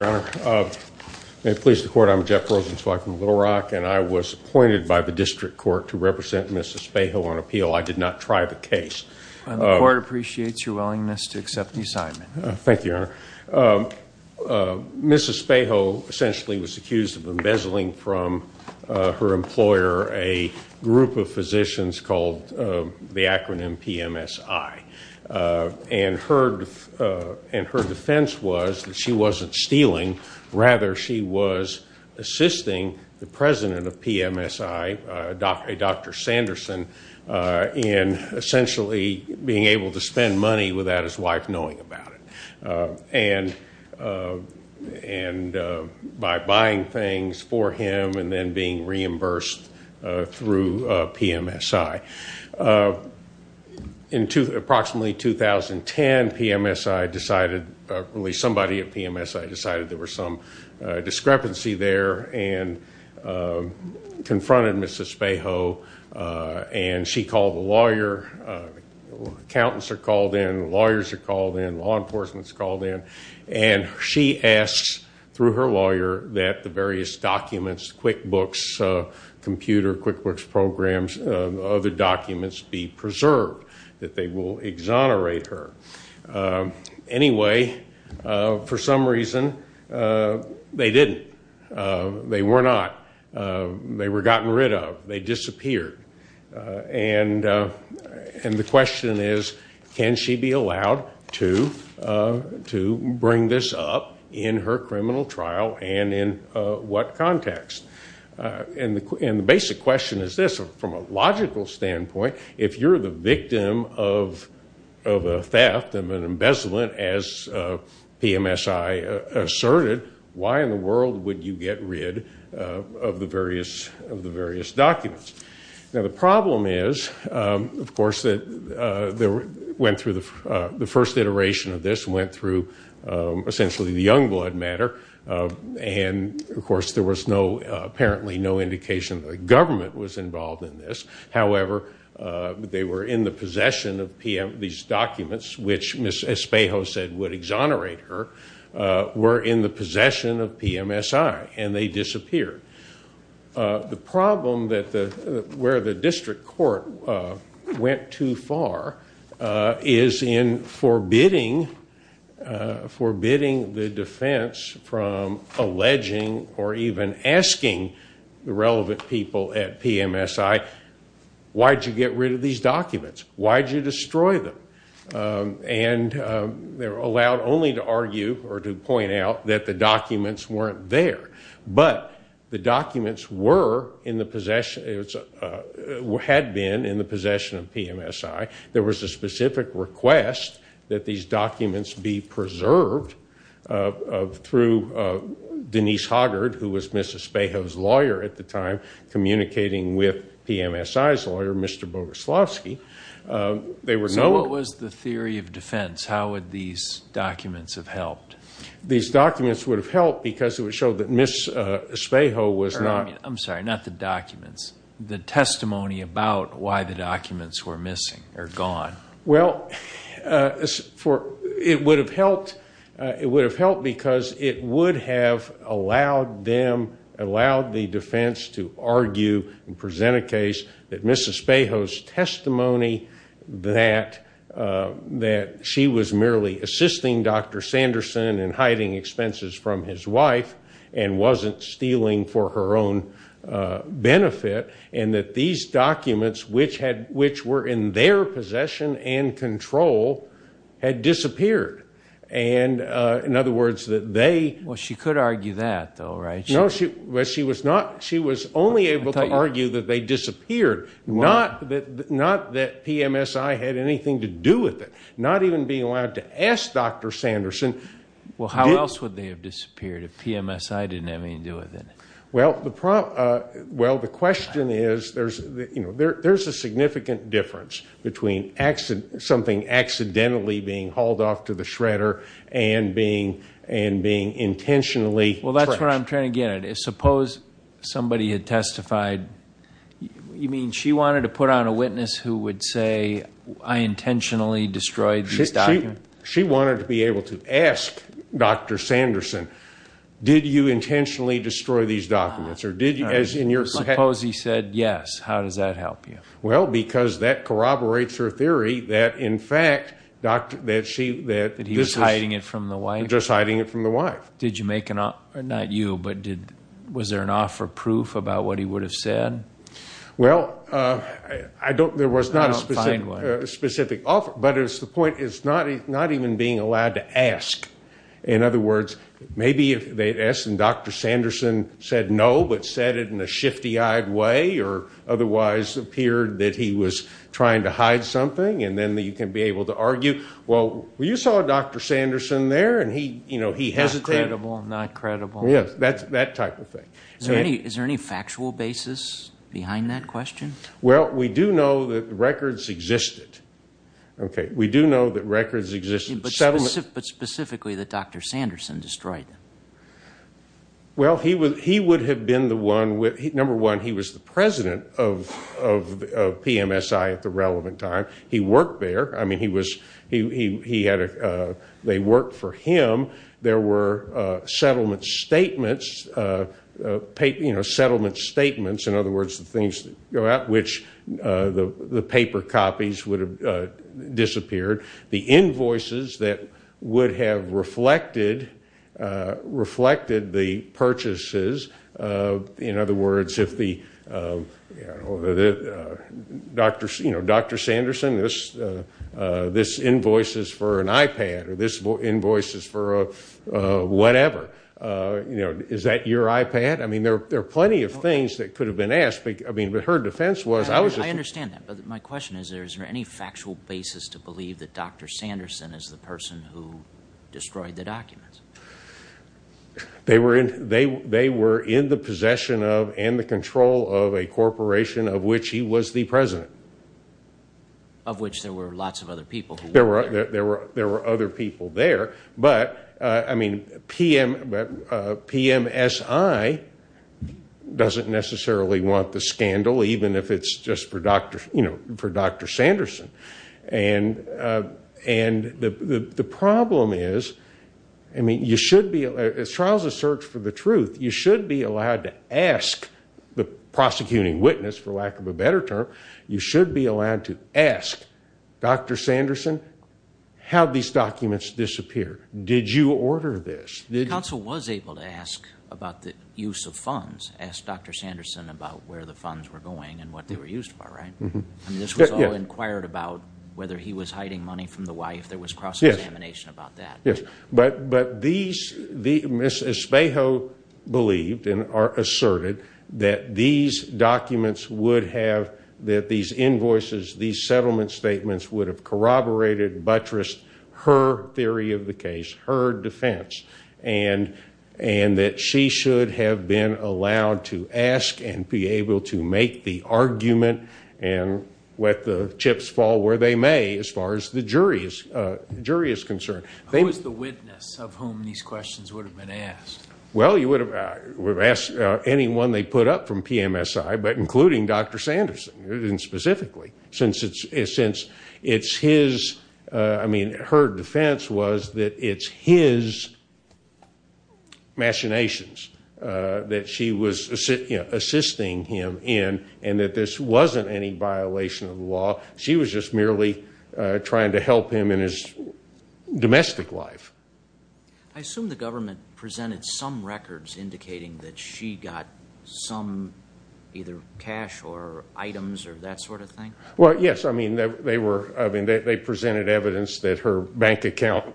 May it please the court, I'm Jeff Rosenzweig from Little Rock and I was appointed by the District Court to represent Mrs. Espejo on appeal. I did not try the case. The court appreciates your willingness to accept the assignment. Thank you, Your Honor. Mrs. Espejo essentially was accused of embezzling from her employer a group of physicians called the acronym PMSI. And her defense was that she wasn't stealing, rather she was assisting the president of PMSI, Dr. Sanderson, in essentially being able to spend money without his wife knowing about it. And by buying things for him and then being reimbursed through PMSI. In approximately 2010, PMSI decided, somebody at PMSI decided there was some discrepancy there and confronted Mrs. Espejo. And she called the lawyer, accountants are called in, lawyers are called in, law enforcement is called in, and she asks through her lawyer that the various documents, QuickBooks computer, QuickBooks programs, other documents be preserved, that they will exonerate her. Anyway, for some reason, they didn't. They were not. They were gotten rid of. They disappeared. And the question is, can she be allowed to bring this up in her criminal trial and in what context? And the basic question is this, from a logical standpoint, if you're the victim of a theft, of an embezzlement, as PMSI asserted, why in the world would you get rid of the various documents? Now the problem is, of course, that the first iteration of this went through essentially the Youngblood matter. And, of course, there was apparently no indication that the government was involved in this. However, they were in the possession of these documents, which Mrs. Espejo said would exonerate her, were in the possession of PMSI, and they disappeared. The problem where the district court went too far is in forbidding the defense from alleging or even asking the relevant people at PMSI, why did you get rid of these documents? Why did you destroy them? And they were allowed only to argue or to point out that the documents weren't there. But the documents were in the possession, had been in the possession of PMSI. There was a specific request that these documents be preserved through Denise Hoggard, who was Mrs. Espejo's lawyer at the time, communicating with PMSI's lawyer, Mr. Boguslawski. So what was the theory of defense? How would these documents have helped? These documents would have helped because it would show that Mrs. Espejo was not... I'm sorry, not the documents. The testimony about why the documents were missing or gone. Well, it would have helped because it would have allowed them, allowed the defense to argue and present a case that Mrs. Espejo's testimony that she was merely assisting Dr. Sanderson in hiding expenses from his wife and wasn't stealing for her own benefit, and that these documents, which were in their possession and control, had disappeared. In other words, that they... Well, she could argue that, though, right? No, she was only able to argue that they disappeared, not that PMSI had anything to do with it. Not even being allowed to ask Dr. Sanderson... Well, how else would they have disappeared if PMSI didn't have anything to do with it? Well, the question is, there's a significant difference between something accidentally being hauled off to the shredder and being intentionally... Well, that's what I'm trying to get at. Suppose somebody had testified... You mean she wanted to put on a witness who would say, I intentionally destroyed these documents? She wanted to be able to ask Dr. Sanderson, did you intentionally destroy these documents? Suppose he said yes. How does that help you? Well, because that corroborates her theory that, in fact... That he was hiding it from the wife? Just hiding it from the wife. Not you, but was there an offer proof about what he would have said? Well, there was not a specific offer, but the point is not even being allowed to ask. In other words, maybe if they had asked and Dr. Sanderson said no, but said it in a shifty-eyed way or otherwise appeared that he was trying to hide something, and then you can be able to argue, well, you saw Dr. Sanderson there, and he hesitated. Not credible, not credible. Yes, that type of thing. Is there any factual basis behind that question? Well, we do know that records existed. We do know that records existed. But specifically that Dr. Sanderson destroyed them? Well, he would have been the one... Number one, he was the president of PMSI at the relevant time. He worked there. I mean, they worked for him. There were settlement statements, in other words, the things that go out, which the paper copies would have disappeared. The invoices that would have reflected the purchases. In other words, Dr. Sanderson, this invoice is for an iPad or this invoice is for whatever. Is that your iPad? I mean, there are plenty of things that could have been asked, but her defense was... I understand that, but my question is, is there any factual basis to believe that Dr. Sanderson is the person who destroyed the documents? They were in the possession of and the control of a corporation of which he was the president. Of which there were lots of other people. There were other people there. But, I mean, PMSI doesn't necessarily want the scandal, even if it's just for Dr. Sanderson. And the problem is, I mean, you should be... A trial is a search for the truth. You should be allowed to ask the prosecuting witness, for lack of a better term. You should be allowed to ask Dr. Sanderson how these documents disappeared. Did you order this? The counsel was able to ask about the use of funds. Ask Dr. Sanderson about where the funds were going and what they were used for, right? And this was all inquired about whether he was hiding money from the wife. There was cross-examination about that. Yes, but these... Ms. Espejo believed and asserted that these documents would have... That these invoices, these settlement statements would have corroborated, buttressed her theory of the case, her defense. And that she should have been allowed to ask and be able to make the argument and let the chips fall where they may, as far as the jury is concerned. Who was the witness of whom these questions would have been asked? Well, you would have asked anyone they put up from PMSI, but including Dr. Sanderson, specifically. Since it's his... I mean, her defense was that it's his machinations that she was assisting him in, and that this wasn't any violation of the law. She was just merely trying to help him in his domestic life. I assume the government presented some records indicating that she got some... Well, yes. I mean, they presented evidence that her bank account...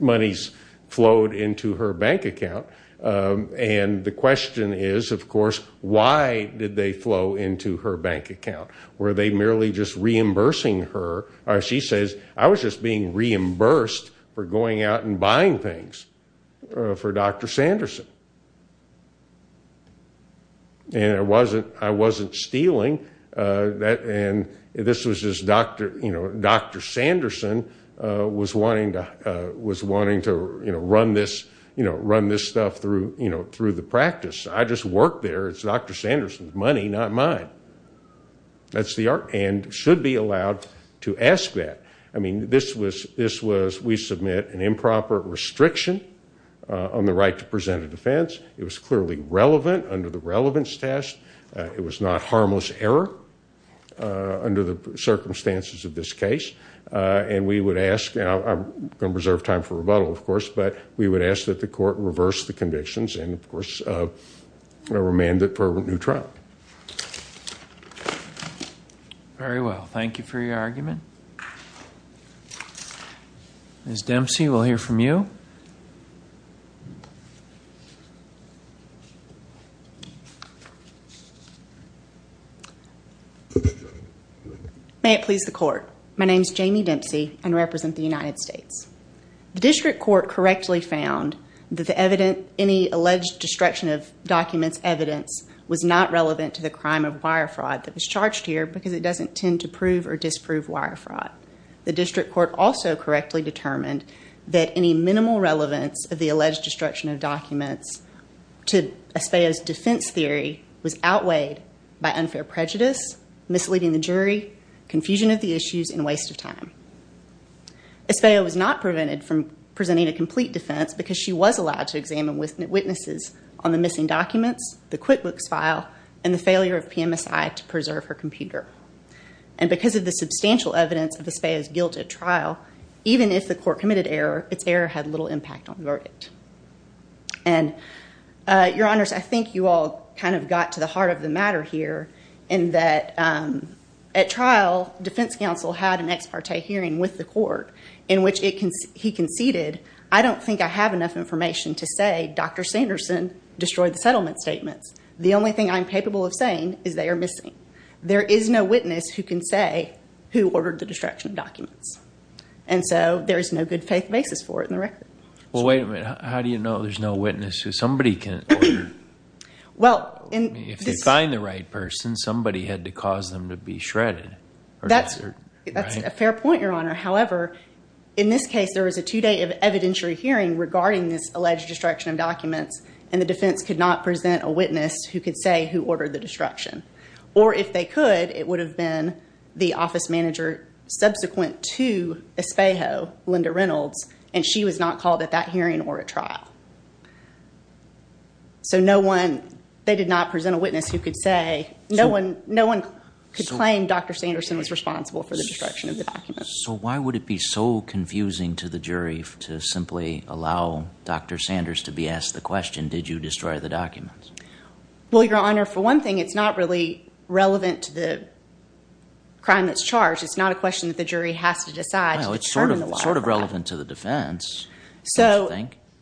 Monies flowed into her bank account. And the question is, of course, why did they flow into her bank account? Were they merely just reimbursing her? She says, I was just being reimbursed for going out and buying things for Dr. Sanderson. And I wasn't stealing. And this was just Dr. Sanderson was wanting to run this stuff through the practice. I just worked there. It's Dr. Sanderson's money, not mine. That's the argument. And should be allowed to ask that. I mean, this was... we submit an improper restriction on the right to present a defense. It was clearly relevant under the relevance test. It was not harmless error under the circumstances of this case. And we would ask... I'm going to reserve time for rebuttal, of course, but we would ask that the court reverse the convictions and, of course, remand it for a new trial. Thank you. Very well. Thank you for your argument. Ms. Dempsey, we'll hear from you. May it please the court. My name is Jamie Dempsey and represent the United States. The district court correctly found that any alleged destruction of documents evidence was not relevant to the crime of wire fraud that was charged here because it doesn't tend to prove or disprove wire fraud. The district court also correctly determined that any minimal relevance of the alleged destruction of documents to Espayo's defense theory was outweighed by unfair prejudice, misleading the jury, confusion of the issues, and waste of time. Espayo was not prevented from presenting a complete defense because she was allowed to examine witnesses on the missing documents, the QuickBooks file, and the failure of PMSI to preserve her computer. And because of the substantial evidence of Espayo's guilt at trial, even if the court committed error, its error had little impact on the verdict. And, Your Honors, I think you all kind of got to the heart of the matter here in that at trial, defense counsel had an ex parte hearing with the court in which he conceded, I don't think I have enough information to say Dr. Sanderson destroyed the settlement statements. The only thing I'm capable of saying is they are missing. There is no witness who can say who ordered the destruction of documents. And so there is no good faith basis for it in the record. Well, wait a minute. How do you know there's no witness who somebody can order? If they find the right person, somebody had to cause them to be shredded. That's a fair point, Your Honor. However, in this case, there was a two-day evidentiary hearing regarding this alleged destruction of documents, and the defense could not present a witness who could say who ordered the destruction. Or if they could, it would have been the office manager subsequent to Espayo, Linda Reynolds, so no one, they did not present a witness who could say, no one could claim Dr. Sanderson was responsible for the destruction of the documents. So why would it be so confusing to the jury to simply allow Dr. Sanders to be asked the question, did you destroy the documents? Well, Your Honor, for one thing, it's not really relevant to the crime that's charged. It's not a question that the jury has to decide to determine the law.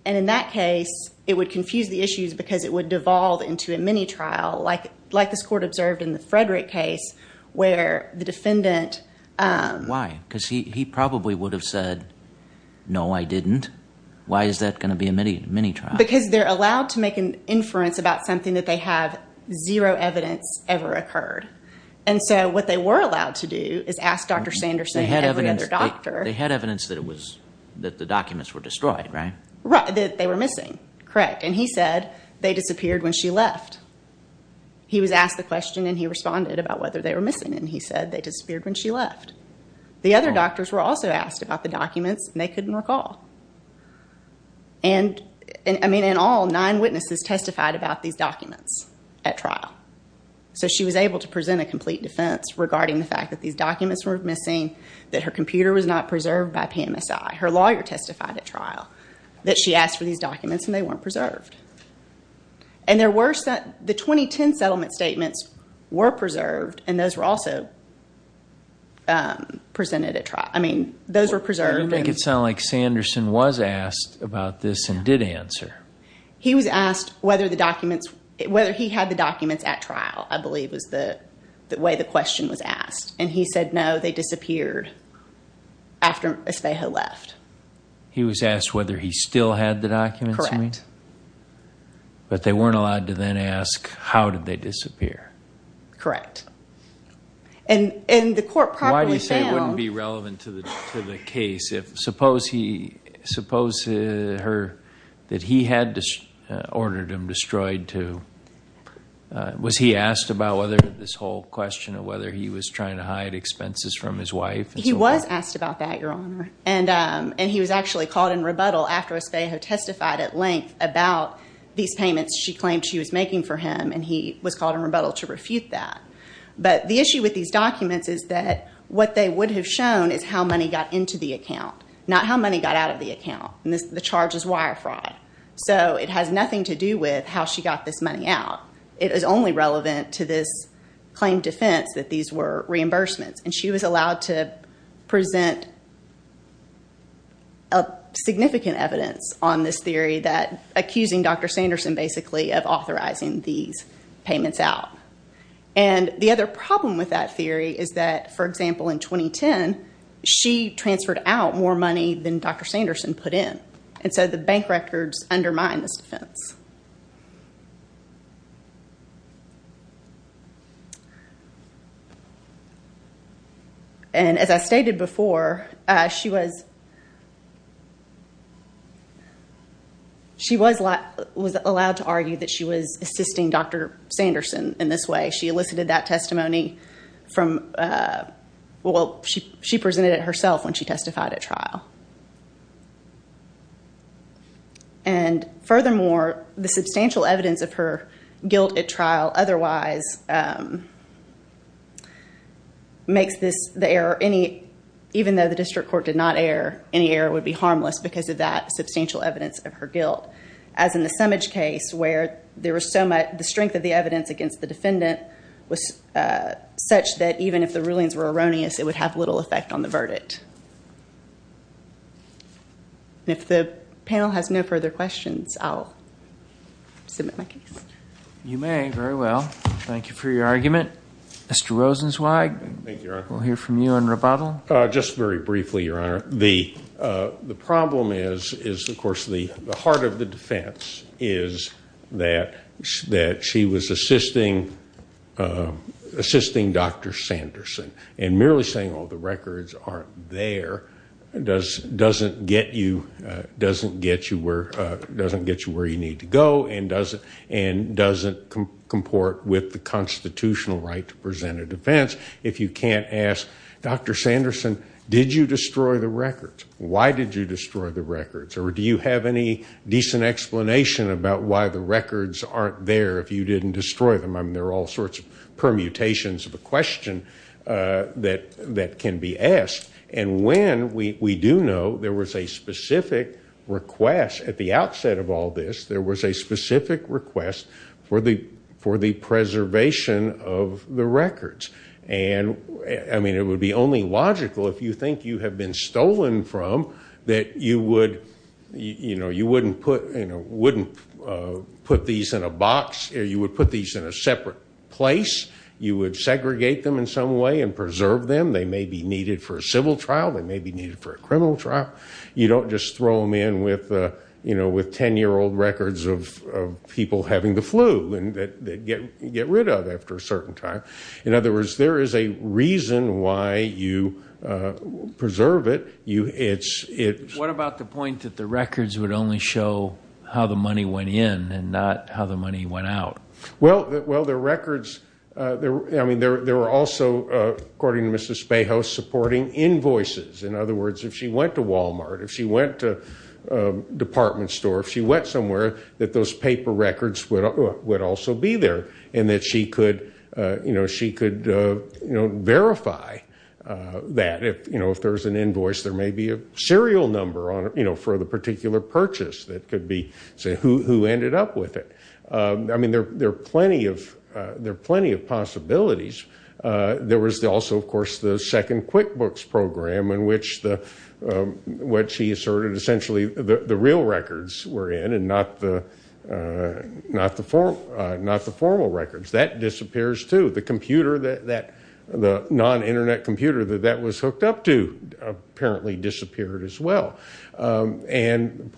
And in that case, it would confuse the issues because it would devolve into a mini-trial, like this court observed in the Frederick case, where the defendant— Why? Because he probably would have said, no, I didn't. Why is that going to be a mini-trial? Because they're allowed to make an inference about something that they have zero evidence ever occurred. And so what they were allowed to do is ask Dr. Sanderson and every other doctor— They were missing, correct. And he said they disappeared when she left. He was asked the question and he responded about whether they were missing, and he said they disappeared when she left. The other doctors were also asked about the documents, and they couldn't recall. And, I mean, in all, nine witnesses testified about these documents at trial. So she was able to present a complete defense regarding the fact that these documents were missing, that her computer was not preserved by PMSI. Her lawyer testified at trial that she asked for these documents and they weren't preserved. And the 2010 settlement statements were preserved, and those were also presented at trial. I mean, those were preserved. I don't think it sounded like Sanderson was asked about this and did answer. He was asked whether he had the documents at trial, I believe was the way the question was asked. And he said, no, they disappeared as they had left. He was asked whether he still had the documents, you mean? Correct. But they weren't allowed to then ask, how did they disappear? Correct. And the court properly found— Why do you say it wouldn't be relevant to the case? Suppose that he had ordered them destroyed to— He was asked about that, Your Honor. And he was actually called in rebuttal after Espejo testified at length about these payments she claimed she was making for him, and he was called in rebuttal to refute that. But the issue with these documents is that what they would have shown is how money got into the account, not how money got out of the account. And the charge is wire fraud. So it has nothing to do with how she got this money out. It is only relevant to this claim defense that these were reimbursements. And she was allowed to present significant evidence on this theory that— accusing Dr. Sanderson, basically, of authorizing these payments out. And the other problem with that theory is that, for example, in 2010, she transferred out more money than Dr. Sanderson put in. And so the bank records undermine this defense. And as I stated before, she was allowed to argue that she was assisting Dr. Sanderson in this way. She elicited that testimony from— And furthermore, the substantial evidence of her guilt at trial otherwise makes this— the error any—even though the district court did not err, any error would be harmless because of that substantial evidence of her guilt. As in the Summage case where there was so much— the strength of the evidence against the defendant was such that even if the rulings were erroneous, it would have little effect on the verdict. If the panel has no further questions, I'll submit my case. You may. Very well. Thank you for your argument. Mr. Rosenzweig? Thank you, Your Honor. We'll hear from you on rebuttal. Just very briefly, Your Honor. The problem is, of course, the heart of the defense is that she was assisting Dr. Sanderson. And merely saying, oh, the records aren't there, doesn't get you where you need to go and doesn't comport with the constitutional right to present a defense. If you can't ask, Dr. Sanderson, did you destroy the records? Why did you destroy the records? Or do you have any decent explanation about why the records aren't there if you didn't destroy them? I mean, there are all sorts of permutations of a question that can be asked. And when we do know there was a specific request at the outset of all this, there was a specific request for the preservation of the records. And, I mean, it would be only logical, if you think you have been stolen from, that you wouldn't put these in a box or you would put these in a separate place. You would segregate them in some way and preserve them. They may be needed for a civil trial. They may be needed for a criminal trial. You don't just throw them in with 10-year-old records of people having the flu that you get rid of after a certain time. In other words, there is a reason why you preserve it. What about the point that the records would only show how the money went in and not how the money went out? Well, the records, I mean, there were also, according to Mrs. Spejo, supporting invoices. In other words, if she went to Walmart, if she went to a department store, if she went somewhere, that those paper records would also be there and that she could verify that. If there is an invoice, there may be a serial number for the particular purchase that could be, say, who ended up with it. I mean, there are plenty of possibilities. There was also, of course, the second QuickBooks program in which he asserted essentially the real records were in and not the formal records. That disappears too. The non-Internet computer that that was hooked up to apparently disappeared as well. And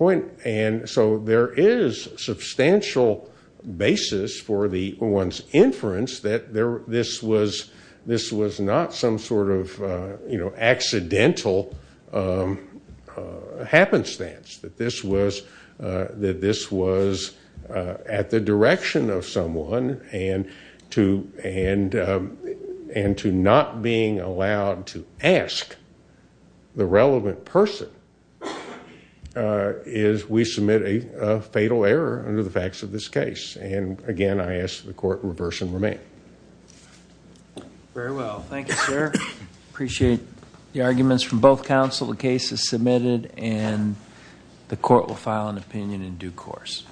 so there is substantial basis for one's inference that this was not some sort of accidental happenstance, that this was at the direction of someone and to not being allowed to ask the relevant person is we submit a fatal error under the facts of this case. And again, I ask that the court reverse and remain. Very well. Thank you, sir. I appreciate the arguments from both counsel. The case is submitted and the court will file an opinion in due course.